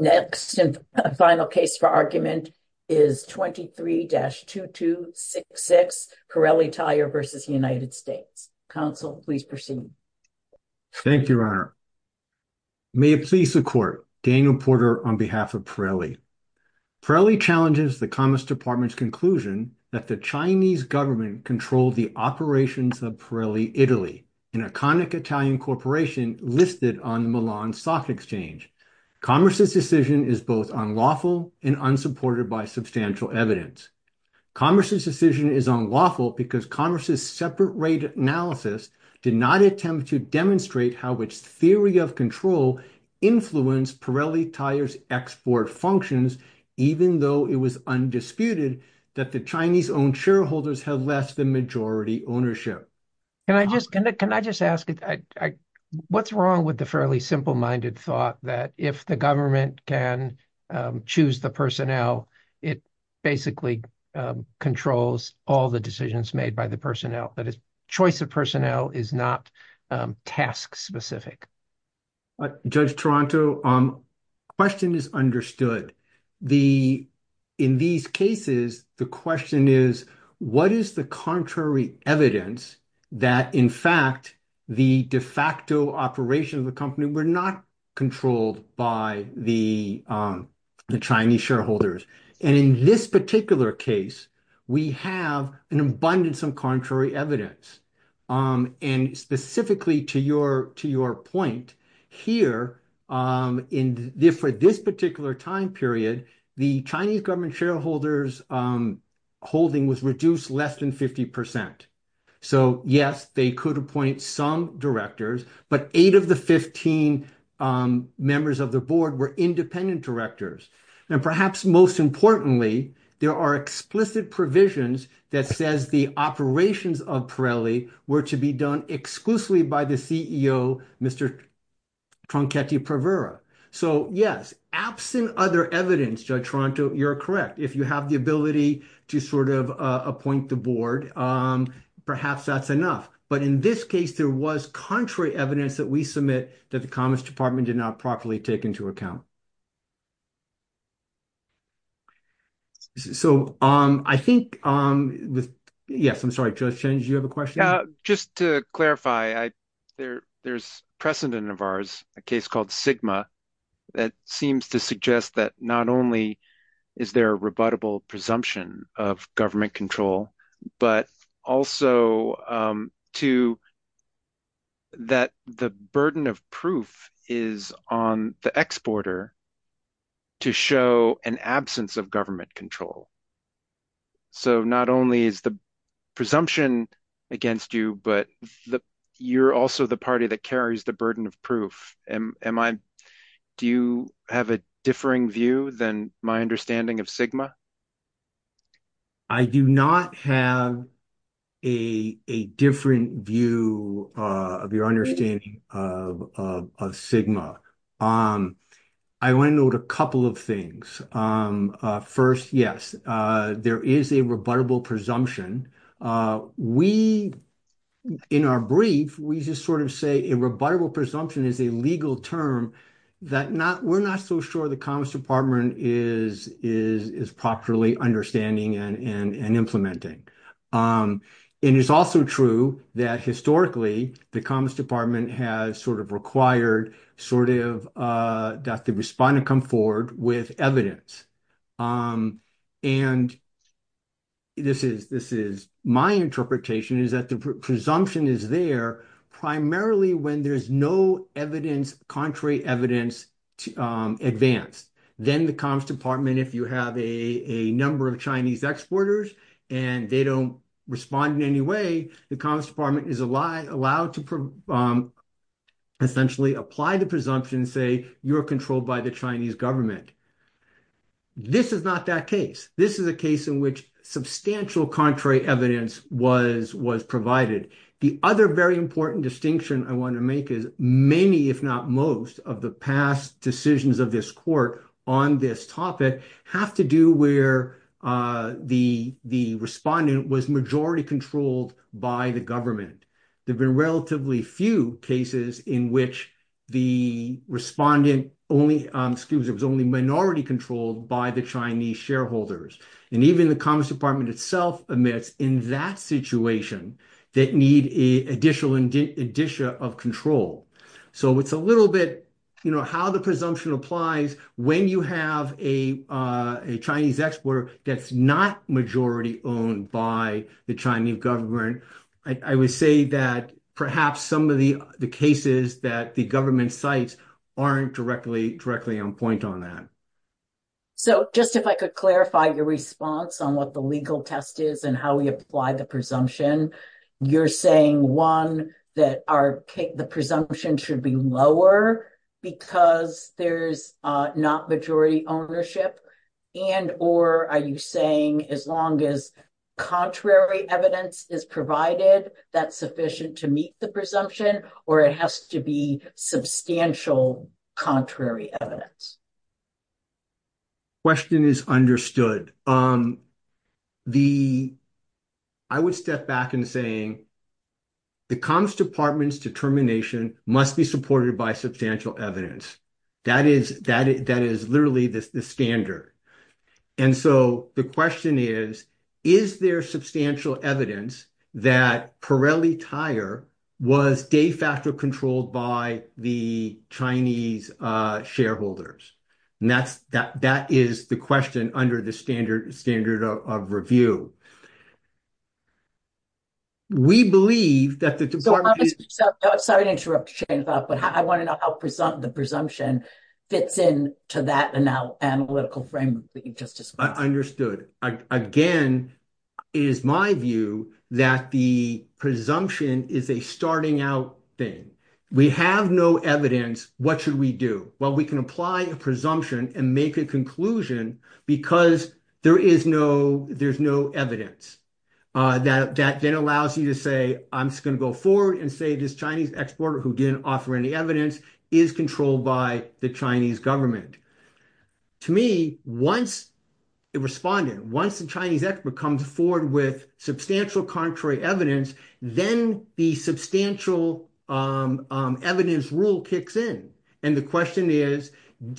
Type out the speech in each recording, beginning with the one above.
Next and final case for argument is 23-2266 Pirelli Tyre v. United States. Counsel, please proceed. Thank you, Your Honor. May it please the Court, Daniel Porter on behalf of Pirelli. Pirelli challenges the Commerce Department's conclusion that the Chinese government controlled the operations of Pirelli Italy, an iconic Italian corporation listed on Milan's soft exchange. Commerce's decision is both unlawful and unsupported by substantial evidence. Commerce's decision is unlawful because Commerce's separate rate analysis did not attempt to demonstrate how its theory of control influenced Pirelli Tyre's export functions, even though it was undisputed that the Chinese-owned shareholders had less than majority ownership. Can I just ask, what's wrong with the fairly simple-minded thought that if the government can choose the personnel, it basically controls all the decisions made by the personnel? That is, choice of personnel is not task-specific. Judge Toronto, the question is understood. In these cases, the question is, what is the contrary evidence that, in fact, the de facto operations of the company were not controlled by the Chinese shareholders? In this particular case, we have an abundance of contrary evidence. Specifically, to your point, here, for this particular time period, the Chinese government shareholders' holding was reduced less than 50%. Yes, they could appoint some directors, but eight of the 15 members of the board were independent directors. Perhaps most importantly, there are explicit provisions that says the operations of Pirelli were to be done exclusively by the CEO, Mr. Tronchetti Prevera. Yes, absent other evidence, Judge Toronto, you're correct. If you have the ability to sort of appoint the board, perhaps that's enough. In this case, there was contrary evidence that we submit that the Commerce Department did not properly take into account. I think, yes, I'm sorry, Judge Chen, did you have a question? Just to clarify, there's precedent of ours, a case called Sigma, that seems to suggest that not only is there a rebuttable presumption of government control, but also that the burden of proof is on the exporter to show an absence of government control. Not only is the presumption, against you, but you're also the party that carries the burden of proof. Do you have a differing view than my understanding of Sigma? I do not have a different view of your understanding of Sigma. I want to note a of things. First, yes, there is a rebuttable presumption. In our brief, we just sort of say a rebuttable presumption is a legal term that we're not so sure the Commerce Department is properly understanding and implementing. It is also true that historically, the Commerce Department has always dealt with evidence. My interpretation is that the presumption is there primarily when there's no contrary evidence advanced. Then the Commerce Department, if you have a number of Chinese exporters and they don't respond in any way, the Commerce Department is allowed to essentially apply the presumption, say, you're controlled by the Chinese government. This is not that case. This is a case in which substantial contrary evidence was provided. The other very important distinction I want to make is many, if not most, of the past decisions of this court on this topic have to do where the respondent was majority controlled by the government. There have been relatively few cases in which the respondent was only minority controlled by the Chinese shareholders. Even the Commerce Department itself admits in that situation that need additional addition of control. It's a little bit how the presumption applies when you have a Chinese exporter that's not majority owned by the Chinese government. I would say that perhaps some of the cases that the government cites aren't directly on point on that. So just if I could clarify your response on what the legal test is and how we apply the You're saying, one, that the presumption should be lower because there's not majority ownership and or are you saying as long as contrary evidence is provided that's sufficient to meet the presumption or it has to be substantial contrary evidence? The question is understood. I would step back and saying the Commerce Department's determination must be supported by substantial evidence. That is literally the standard. And so the question is, is there substantial evidence that Pirelli Tire was de facto controlled by the Chinese shareholders? And that is the question under the standard of review. We believe that the department is Sorry to interrupt you, but I want to know how the presumption fits in to that analytical framework that you just discussed. Understood. Again, it is my view that the presumption is a starting out thing. We have no evidence. What should we do? Well, we can apply a presumption and make a conclusion because there's no evidence. That then allows you to say, I'm just going to go forward and say this Chinese exporter who didn't offer any evidence is controlled by the Chinese government. To me, once the Chinese expert comes forward with substantial contrary evidence, then the substantial evidence rule kicks in. And the question is,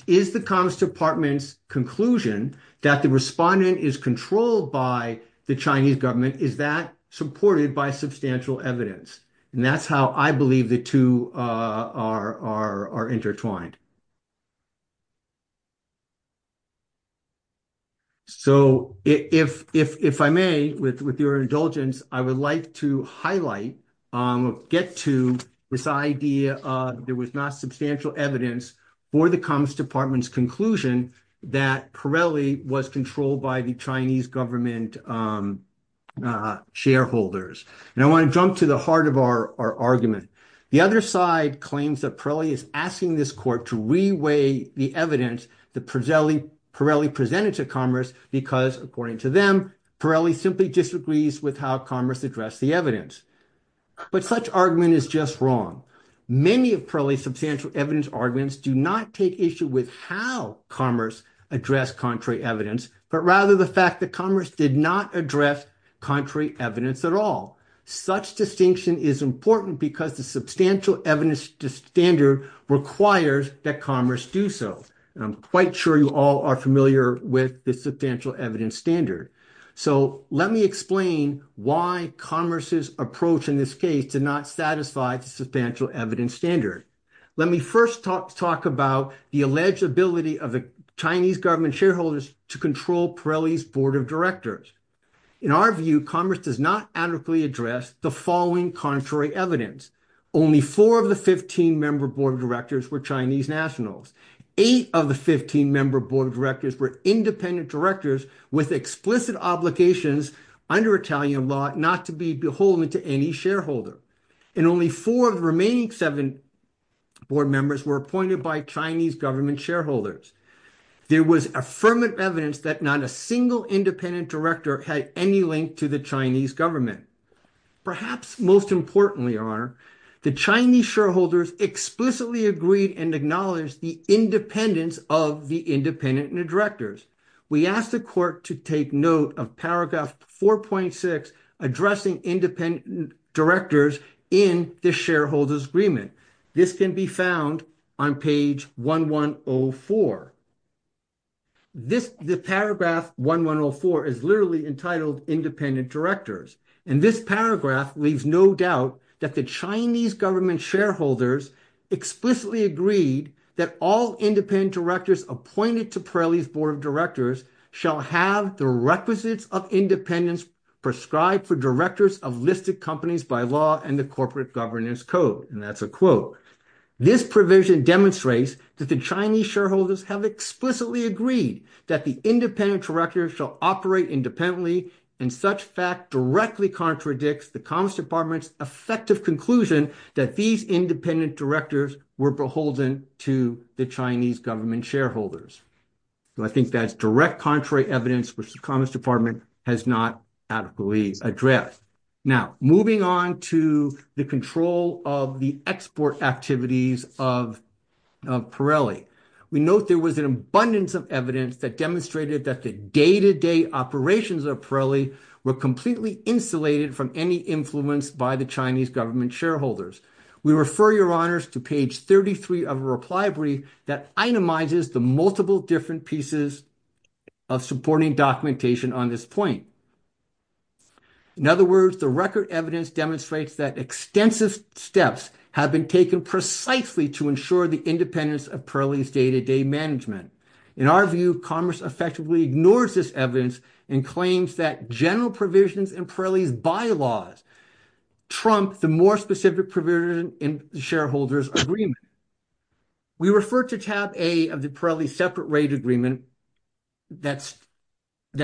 is the Commerce Department's conclusion that the respondent is controlled by the Chinese government, is that supported by substantial evidence? And that's how I believe the two are intertwined. So, if I may, with your indulgence, I would like to highlight, get to this idea of there was not substantial evidence for the Commerce Department's conclusion that Pirelli was controlled by the Chinese government shareholders. And I want to jump to the heart of our argument. The other side claims that Pirelli is asking this court to reweigh the evidence that Pirelli presented to Commerce because, according to them, Pirelli simply disagrees with how Commerce addressed the evidence. But such argument is just wrong. Many of Pirelli's substantial evidence arguments do not take issue with how Commerce addressed contrary evidence, but rather the fact that Commerce did not address contrary evidence at all. Such distinction is important because the substantial evidence standard requires that Commerce do so. And I'm quite sure you all are familiar with the substantial evidence standard. So, let me explain why Commerce's approach in this case did not satisfy the substantial evidence standard. Let me first talk about the alleged ability of the Chinese government shareholders to control Pirelli's board of In our view, Commerce does not adequately address the following contrary evidence. Only four of the 15 member board directors were Chinese nationals. Eight of the 15 member board directors were independent directors with explicit obligations under Italian law not to be beholden to any shareholder. And only four of the remaining seven board members were appointed by Chinese government shareholders. There was affirmative evidence that not a single independent director had any link to the Chinese government. Perhaps most importantly, your honor, the Chinese shareholders explicitly agreed and acknowledged the independence of the independent directors. We asked the court to take note of paragraph 4.6 addressing independent directors in the shareholders agreement. This can be found on page 1104. The paragraph 1104 is literally entitled independent directors. And this paragraph leaves no doubt that the Chinese government shareholders explicitly agreed that all independent directors appointed to Pirelli's board of directors shall have the requisites of independence prescribed for directors of listed companies by law and the governance code. And that's a quote. This provision demonstrates that the Chinese shareholders have explicitly agreed that the independent directors shall operate independently and such fact directly contradicts the Commerce Department's effective conclusion that these independent directors were beholden to the Chinese government shareholders. I think that's direct contrary evidence which the the export activities of Pirelli. We note there was an abundance of evidence that demonstrated that the day-to-day operations of Pirelli were completely insulated from any influence by the Chinese government shareholders. We refer your honors to page 33 of a reply brief that itemizes the multiple different pieces of supporting documentation on this point. In other words, the record evidence demonstrates that extensive steps have been taken precisely to ensure the independence of Pirelli's day-to-day management. In our view, commerce effectively ignores this evidence and claims that general provisions in Pirelli's bylaws trump the more specific provision in the shareholders agreement. We refer to tab A of the Pirelli separate rate agreement that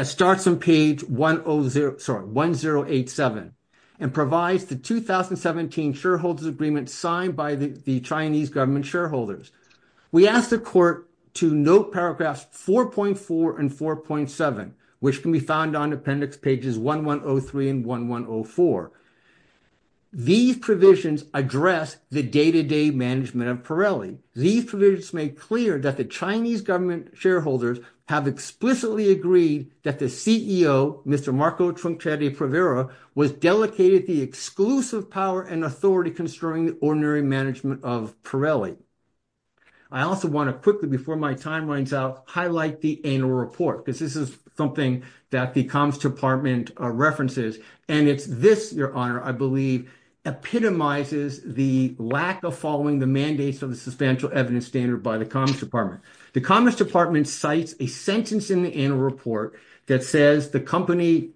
starts on page 1087 and provides the 2017 shareholders agreement signed by the Chinese government shareholders. We ask the court to note paragraphs 4.4 and 4.7 which can be found on appendix pages 1103 and 1104. These provisions address the day-to-day management of Pirelli. These provisions make clear that the Chinese government shareholders have explicitly agreed that the CEO, Mr. Marco Tronchetti Privera, was delegated the exclusive power and authority concerning the ordinary management of Pirelli. I also want to quickly before my time runs out highlight the annual report because this is something that the comms department references and it's this, your honor, I believe epitomizes the lack of following the mandates of the substantial evidence standard by the comms department. The comms department cites a sentence in the annual report that says the company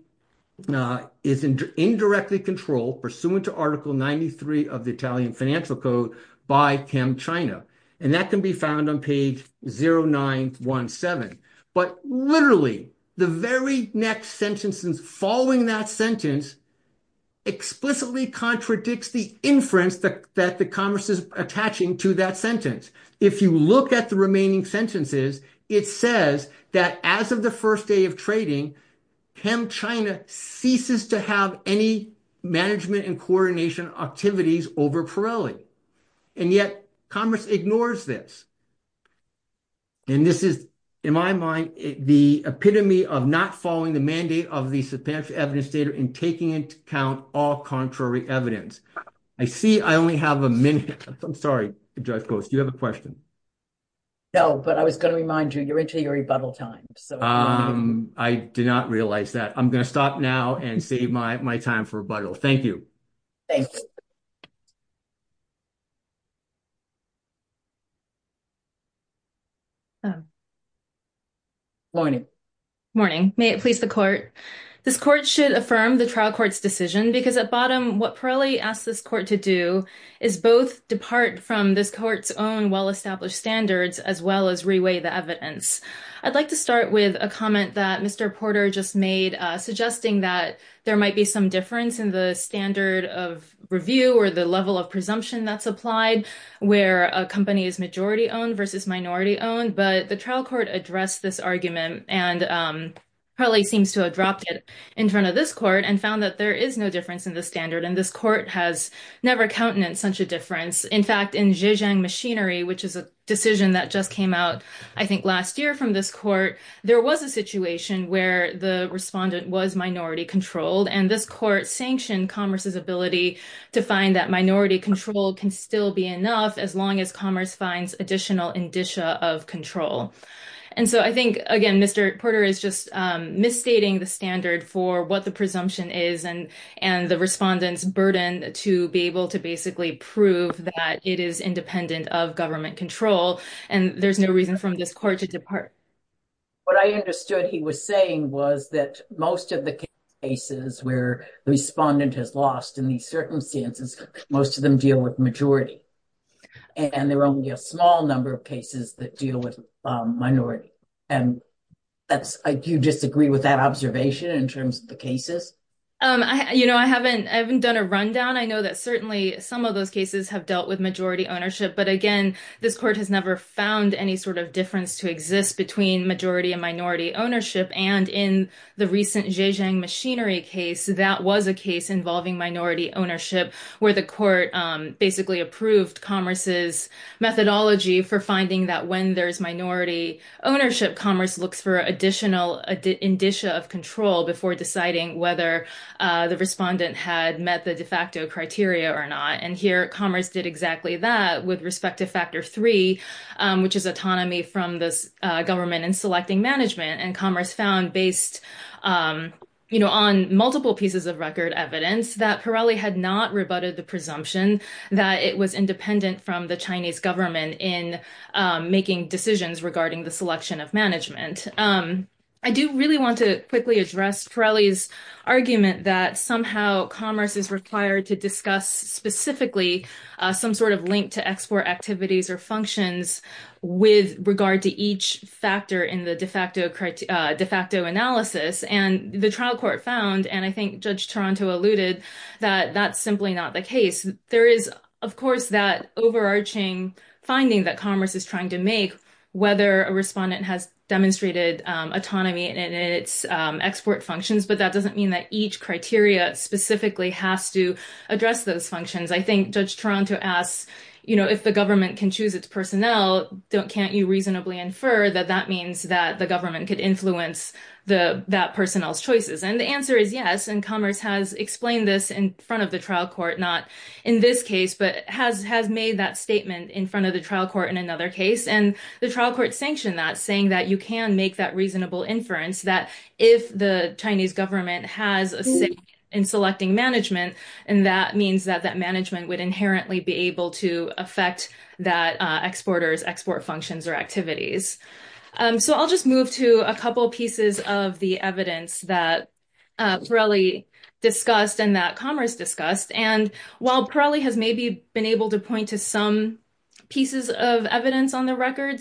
is indirectly controlled pursuant to article 93 of the Italian financial code by ChemChina and that can be found on page 0917. But literally, the very next sentence following that sentence explicitly contradicts the inference that the commerce is attaching to that sentence. If you look at the remaining sentences, it says that as of the first day of trading, ChemChina ceases to have any management and coordination activities over Pirelli and yet commerce ignores this. And this is, in my mind, the epitome of not following the mandate of the substantial evidence data and taking into account all contrary evidence. I see I only have a minute. I'm sorry, Judge Coates, do you have a question? No, but I was going to remind you, you're into your rebuttal time. I did not realize that. I'm going to stop now and save my time for rebuttal. Thank you. Thanks. Morning. Morning. May it please the court. This court should affirm the trial court's decision because at bottom, what Pirelli asked this court to do is both depart from this court's own well-established standards as well as reweigh the evidence. I'd like to start with a comment that Mr. Porter just made suggesting that there might be some difference in the standard of review or the level of presumption that's applied where a company is majority owned versus minority owned. But the trial court addressed this argument and Pirelli seems to have dropped it in front of this court and found that there is no difference in the standard. And this court has never countenanced such a difference. In fact, in Zhejiang Machinery, which is a decision that just came out, I think, where the respondent was minority controlled. And this court sanctioned commerce's ability to find that minority control can still be enough as long as commerce finds additional indicia of control. And so I think, again, Mr. Porter is just misstating the standard for what the presumption is and the respondent's burden to be able to basically prove that it is independent of government control. And there's no reason from this court to depart. What I understood he was saying was that most of the cases where the respondent has lost in these circumstances, most of them deal with majority. And there are only a small number of cases that deal with minority. And do you disagree with that observation in terms of the cases? I haven't done a rundown. I know that certainly some of those cases have dealt with ownership. But again, this court has never found any sort of difference to exist between majority and minority ownership. And in the recent Zhejiang Machinery case, that was a case involving minority ownership, where the court basically approved commerce's methodology for finding that when there's minority ownership, commerce looks for additional indicia of control before deciding whether the respondent had met the de facto criteria or not. And here, commerce did exactly that with respect to factor three, which is autonomy from this government in selecting management. And commerce found, based on multiple pieces of record evidence, that Pirelli had not rebutted the presumption that it was independent from the Chinese government in making decisions regarding the selection of management. I do really want to quickly address Pirelli's argument that somehow commerce is required to discuss specifically some sort of link to export activities or functions with regard to each factor in the de facto analysis. And the trial court found, and I think Judge Toronto alluded, that that's simply not the case. There is, of course, that overarching finding that commerce is trying to make, whether a respondent has demonstrated autonomy in its export functions. But that doesn't mean that each criteria specifically has to address those functions. I think Judge Toronto asks, you know, if the government can choose its personnel, can't you reasonably infer that that means that the government could influence that personnel's choices? And the answer is yes. And commerce has explained this in front of the has made that statement in front of the trial court in another case. And the trial court sanctioned that, saying that you can make that reasonable inference that if the Chinese government has a say in selecting management, and that means that that management would inherently be able to affect that exporter's export functions or activities. So I'll just move to a couple pieces of the evidence that Pirelli discussed and that commerce discussed. And while Pirelli has been able to point to some pieces of evidence on the record,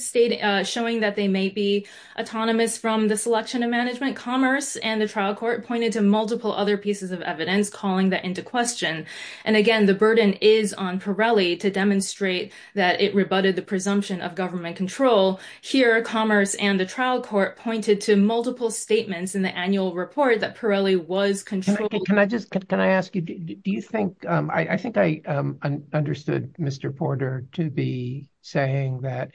showing that they may be autonomous from the selection of management, commerce and the trial court pointed to multiple other pieces of evidence calling that into question. And again, the burden is on Pirelli to demonstrate that it rebutted the presumption of government control. Here, commerce and the trial court pointed to multiple statements in the annual report that Pirelli was controlling. Can I ask you, do you think, I think I understood Mr. Porter to be saying that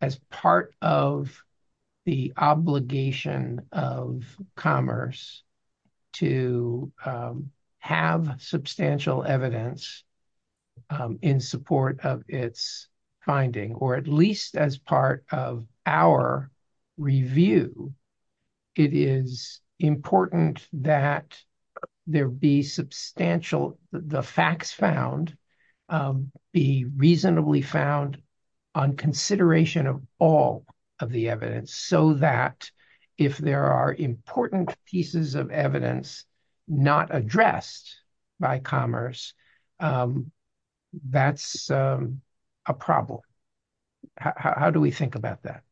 as part of the obligation of commerce to have substantial evidence in support of its finding, or at least as part of our review, it is important that there be substantial, the facts found, be reasonably found on consideration of all of the evidence, so that if there are important pieces of evidence not addressed by commerce, that's a problem. How do we think about that?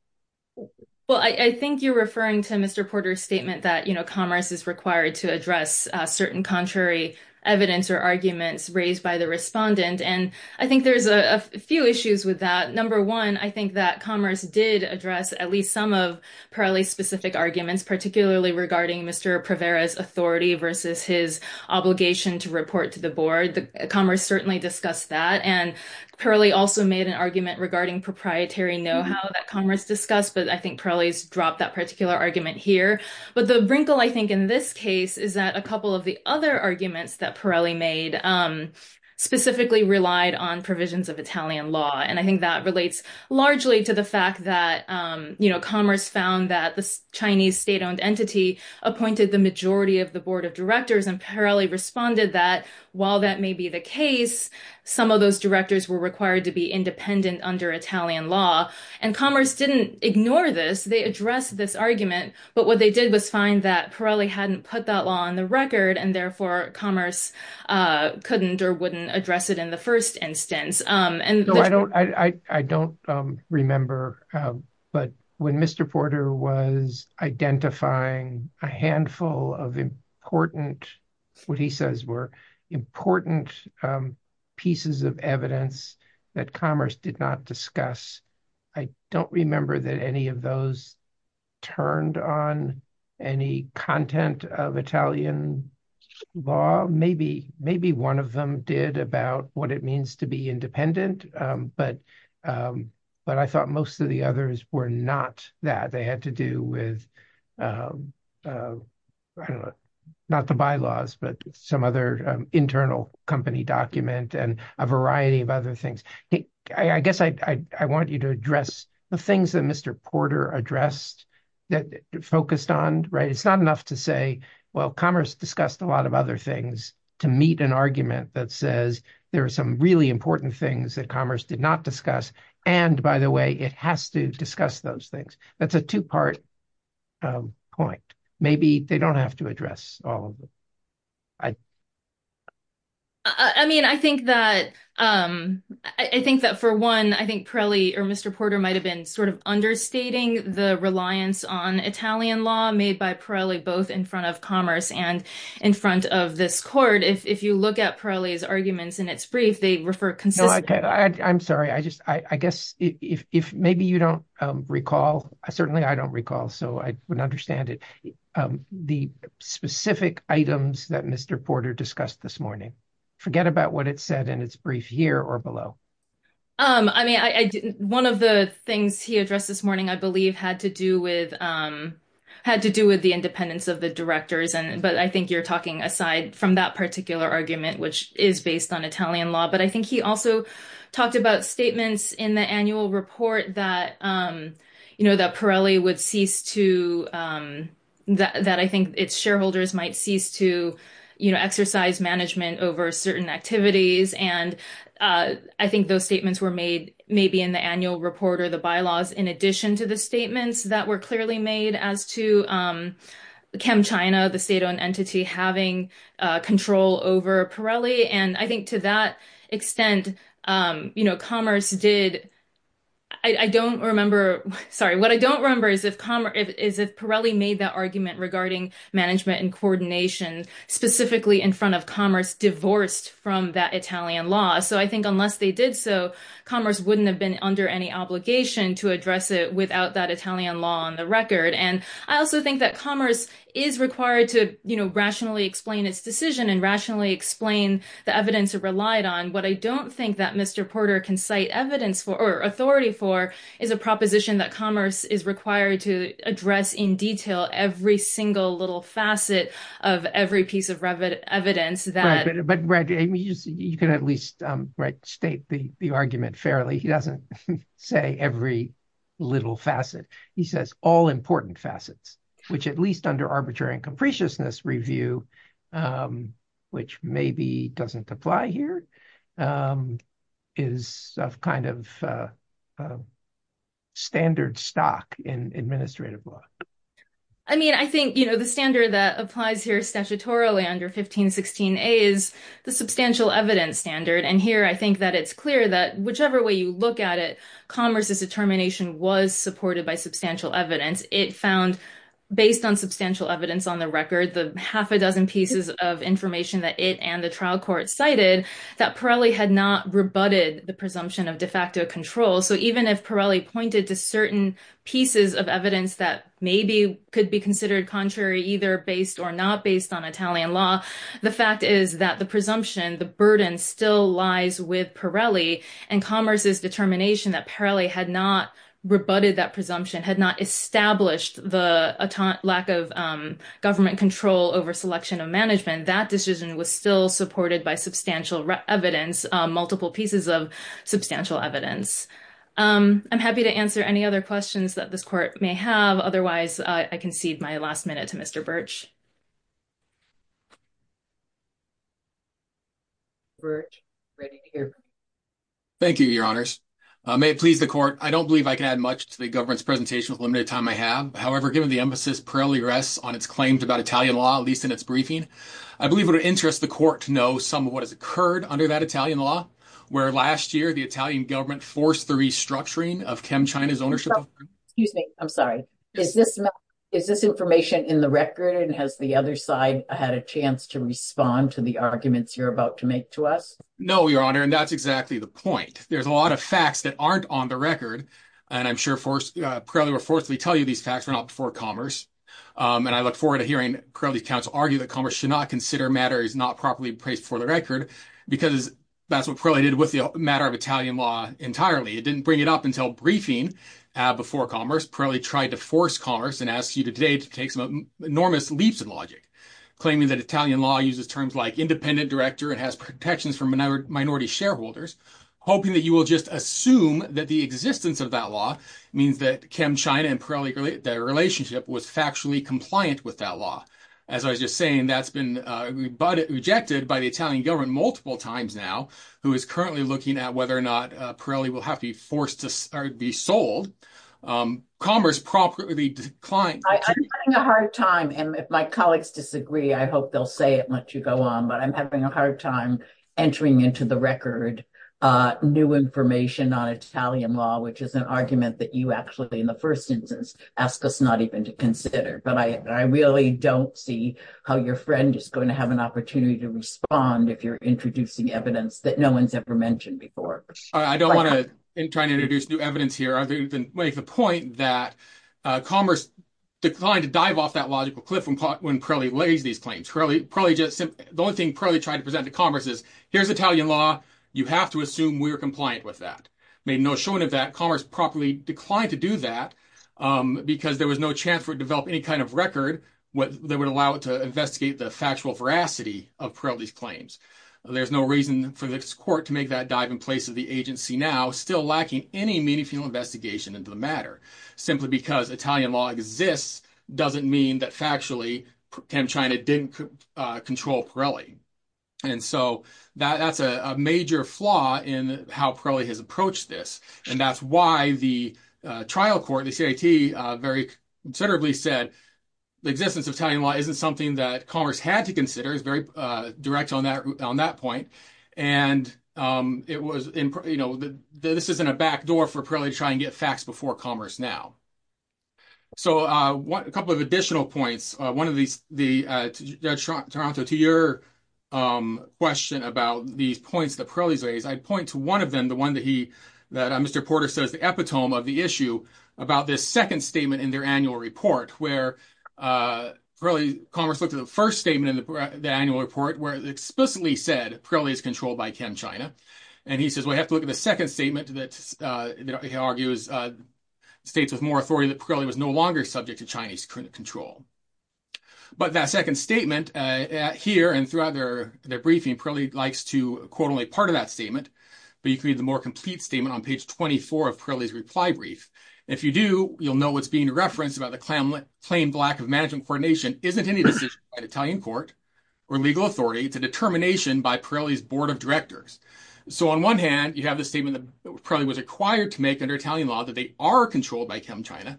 Well, I think you're referring to Mr. Porter's statement that commerce is required to address certain contrary evidence or arguments raised by the respondent. And I think there's a few issues with that. Number one, I think that commerce did address at least some of Pirelli's arguments, particularly regarding Mr. Prevera's authority versus his obligation to report to the board. Commerce certainly discussed that. And Pirelli also made an argument regarding proprietary know-how that commerce discussed, but I think Pirelli's dropped that particular argument here. But the wrinkle, I think, in this case is that a couple of the other arguments that Pirelli made specifically relied on provisions of Italian law. And I think that relates largely to the fact that commerce found that the Chinese state-owned entity appointed the majority of the board of directors, and Pirelli responded that while that may be the case, some of those directors were required to be independent under Italian law. And commerce didn't ignore this. They addressed this argument. But what they did was find that Pirelli hadn't put that law on the record, and therefore commerce couldn't or wouldn't address it in the first instance. No, I don't remember. But when Mr. Porter was identifying a handful of important, what he says were important pieces of evidence that commerce did not discuss, I don't remember that any of those turned on any content of Italian law. Maybe one of them did about what it means to be independent, but I thought most of the others were not that. They had to do with, I don't know, not the bylaws, but some other internal company document and a variety of other things. I guess I want you to address the things that Mr. Porter addressed, that focused on. It's not enough to say, well, commerce discussed a lot of other things to meet an argument that says there are some really important things that commerce did not discuss. And by the way, it has to discuss those things. That's a two-part point. Maybe they don't have to address all of it. I mean, I think that for one, I think Pirelli or Mr. Porter might have been sort of understating the reliance on Italian law made by Pirelli, both in front of and in front of this court. If you look at Pirelli's arguments in its brief, they refer consistently. I'm sorry. I guess if maybe you don't recall, certainly I don't recall, so I wouldn't understand it. The specific items that Mr. Porter discussed this morning, forget about what it said in its brief here or below. I mean, one of the things he addressed this morning, I believe, had to do with the independence of the directors. But I think you're talking aside from that particular argument, which is based on Italian law. But I think he also talked about statements in the annual report that Pirelli would cease to, that I think its shareholders might cease to exercise management over certain activities. And I think those statements were made maybe in the annual report or the bylaws in addition to the statements that were clearly made as to ChemChina, the state-owned entity, having control over Pirelli. And I think to that extent, commerce did, I don't remember, sorry, what I don't remember is if Pirelli made that argument regarding management and coordination, specifically in front of divorced from that Italian law. So I think unless they did so, commerce wouldn't have been under any obligation to address it without that Italian law on the record. And I also think that commerce is required to rationally explain its decision and rationally explain the evidence it relied on. What I don't think that Mr. Porter can cite evidence for or authority for is a proposition that commerce is required to address in detail every single little facet of every piece of evidence that- Right, but Brad, you can at least state the argument fairly. He doesn't say every little facet. He says all important facets, which at least under arbitrary and capriciousness review, which maybe doesn't apply here, is of kind of a standard stock in administrative law. I mean, I think the standard that applies here statutorily under 1516a is the substantial evidence standard. And here, I think that it's clear that whichever way you look at it, commerce's determination was supported by substantial evidence. It found based on substantial evidence on the record, the half a dozen pieces of information that it and the trial court cited, that Pirelli had not rebutted the presumption of de facto control. So even if Pirelli pointed to certain pieces of evidence that maybe could be considered contrary, either based or not based on Italian law, the fact is that the presumption, the burden still lies with Pirelli. And commerce's determination that Pirelli had not rebutted that presumption, had not established the lack of government control over selection of management, that decision was still supported by substantial evidence, multiple pieces of substantial evidence. I'm happy to answer any other questions that this court may have. Otherwise, I concede my last minute to Mr. Birch. Thank you, your honors. May it please the court, I don't believe I can add much to the government's presentation with the limited time I have. However, given the emphasis Pirelli rests on its claims about Italian law, at least in its briefing, I believe it would interest the court to know some of what has occurred under that Italian law, where last year the Italian government forced the restructuring of ChemChina's ownership. Excuse me, I'm sorry. Is this information in the record? And has the other side had a chance to respond to the arguments you're about to make to us? No, your honor. And that's exactly the point. There's a lot of facts that aren't on the record. And I'm sure Pirelli will forcefully tell you these facts were not before commerce. And I look forward to hearing Pirelli's counsel argue that commerce should not consider matters not properly placed before the record, because that's what Pirelli did with the matter of Italian law entirely. It didn't bring it up until briefing before commerce. Pirelli tried to force commerce and asks you today to take some enormous leaps of logic, claiming that Italian law uses terms like independent director and has protections for minority shareholders, hoping that you will just assume that the existence of that law means that ChemChina and Pirelli, their relationship was factually compliant with that law. As I was just saying, that's been rejected by the Italian government multiple times now, who is currently looking at whether or not Pirelli will have to be sold. Commerce promptly declined. I'm having a hard time. And if my colleagues disagree, I hope they'll say it and let you go on. But I'm having a hard time entering into the record new information on Italian law, which is an argument that you actually, in the first instance, ask us not even to consider. But I really don't see how your friend is going to have an opportunity to respond if you're introducing evidence that no one's ever mentioned before. I don't want to try to introduce new evidence here. I think you can make the point that commerce declined to dive off that logical cliff when Pirelli lays these claims. The only thing Pirelli tried to present to commerce is, here's Italian law. You have to assume we are compliant with that. Made no showing of that, commerce promptly declined to do that because there was no chance for it to develop any kind of record that would allow it to investigate the factual veracity of Pirelli's claims. There's no reason for this court to make that dive in place of the agency now, still lacking any meaningful investigation into the matter. Simply because Italian law exists, doesn't mean that factually, ChemChina didn't control Pirelli. And so that's a major flaw in how Pirelli has approached this. And that's why the trial court, the CIT, very considerably said the existence of Italian law isn't something that commerce had to consider. It's very direct on that point. And this isn't a backdoor for Pirelli to try and get facts before commerce now. So a couple of additional points. Toronto, to your question about these points that Pirelli's raised, I'd point to one of them, the one that Mr. Porter says the epitome of the issue, about this second statement in their annual report, where Pirelli, commerce looked at the first statement in the annual report, where it explicitly said Pirelli is controlled by ChemChina. And he says, we have to look at the second statement that he argues states with more authority that Pirelli was no longer subject to Chinese control. But that second statement here and throughout their briefing, Pirelli likes to quote only part of that statement, but you can read the more complete statement on page 24 of Pirelli's reply brief. If you do, you'll know what's being referenced about the plain lack of management coordination isn't any decision by the Italian court or legal authority, it's a by Pirelli's board of directors. So on one hand, you have the statement that Pirelli was required to make under Italian law that they are controlled by ChemChina.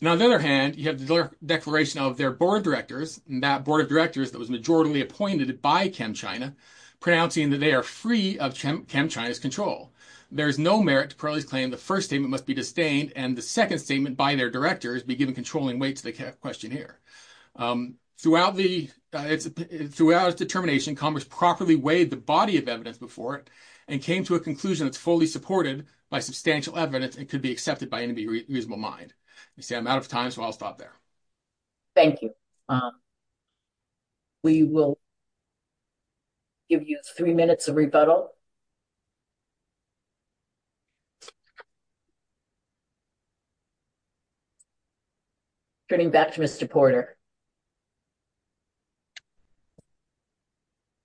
Now, on the other hand, you have the declaration of their board of directors and that board of directors that was majoritarily appointed by ChemChina, pronouncing that they are free of ChemChina's control. There is no merit to Pirelli's claim the first statement must be disdained and the second statement by their directors be given controlling weight to the question here. Throughout its determination, Congress properly weighed the body of evidence before it and came to a conclusion that's fully supported by substantial evidence and could be accepted by any reasonable mind. I'm out of time, so I'll stop there. Thank you. We will give you three minutes of rebuttal. Turning back to Mr. Porter.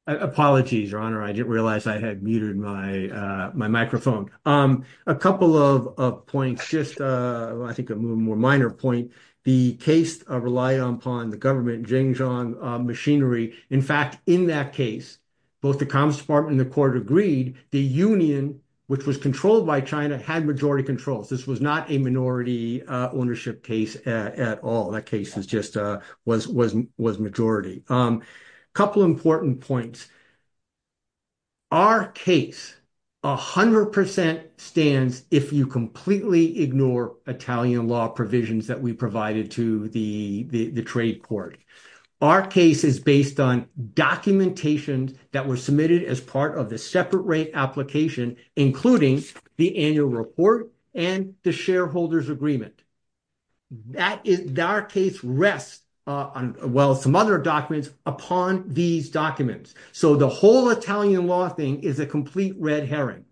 Apologies, Your Honor. I didn't realize I had muted my microphone. A couple of points, just I think a more minor point. The case relied upon the government jing-jong machinery. In fact, in that case, both the Commerce Department and the court agreed that Pirelli's claim the union, which was controlled by China, had majority control. This was not a minority ownership case at all. That case was just a majority. A couple of important points. Our case 100% stands if you completely ignore Italian law provisions that we provided to the trade court. Our case is based on documentation that was submitted as part of the separate rate application, including the annual report and the shareholders' agreement. Our case rests, well, some other documents upon these documents. So the whole Italian law thing is a complete red herring.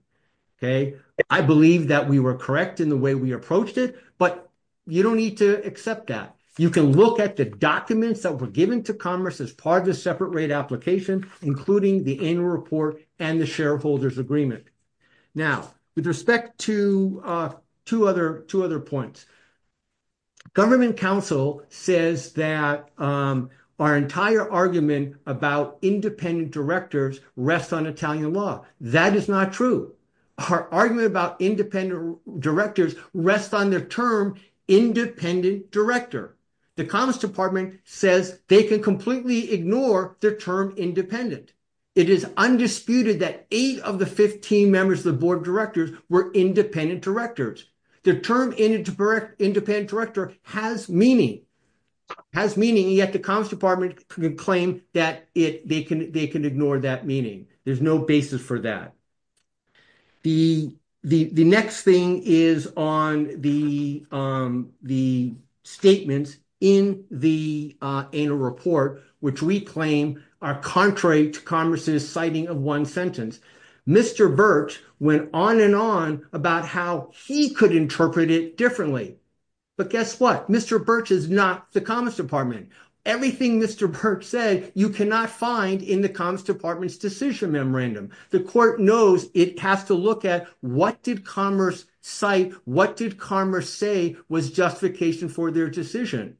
I believe that we were correct in the way we approached it, but you don't need to accept that. You can look at the documents that were given to Commerce as part of the separate rate application, including the annual report and the shareholders' agreement. Now, with respect to two other points. Government counsel says that our entire argument about independent directors rests on Italian law. That is not true. Our argument about independent directors rests on the term independent director. The Commerce Department says they can completely ignore the term independent. It is undisputed that eight of the 15 members of the board of directors were independent directors. The term independent director has meaning, yet the Commerce Department claims that they can ignore that meaning. There's no basis for that. The next thing is on the statements in the annual report, which we claim are contrary to Commerce's citing of one sentence. Mr. Birch went on and on about how he could interpret it differently. But guess what? Mr. Birch is not the Commerce Department. Everything Mr. Birch said, you cannot find in the Commerce Department's decision memorandum. The court knows it has to look at what did Commerce cite? What did Commerce say was justification for their decision?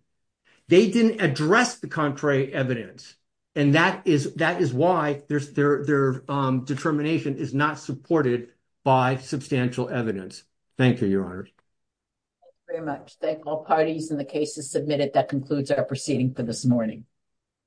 They didn't address the contrary evidence, and that is why their determination is not supported by substantial evidence. Thank you, Your Honor. Thank you very much. Thank all parties and the cases submitted. That concludes our proceeding for this morning.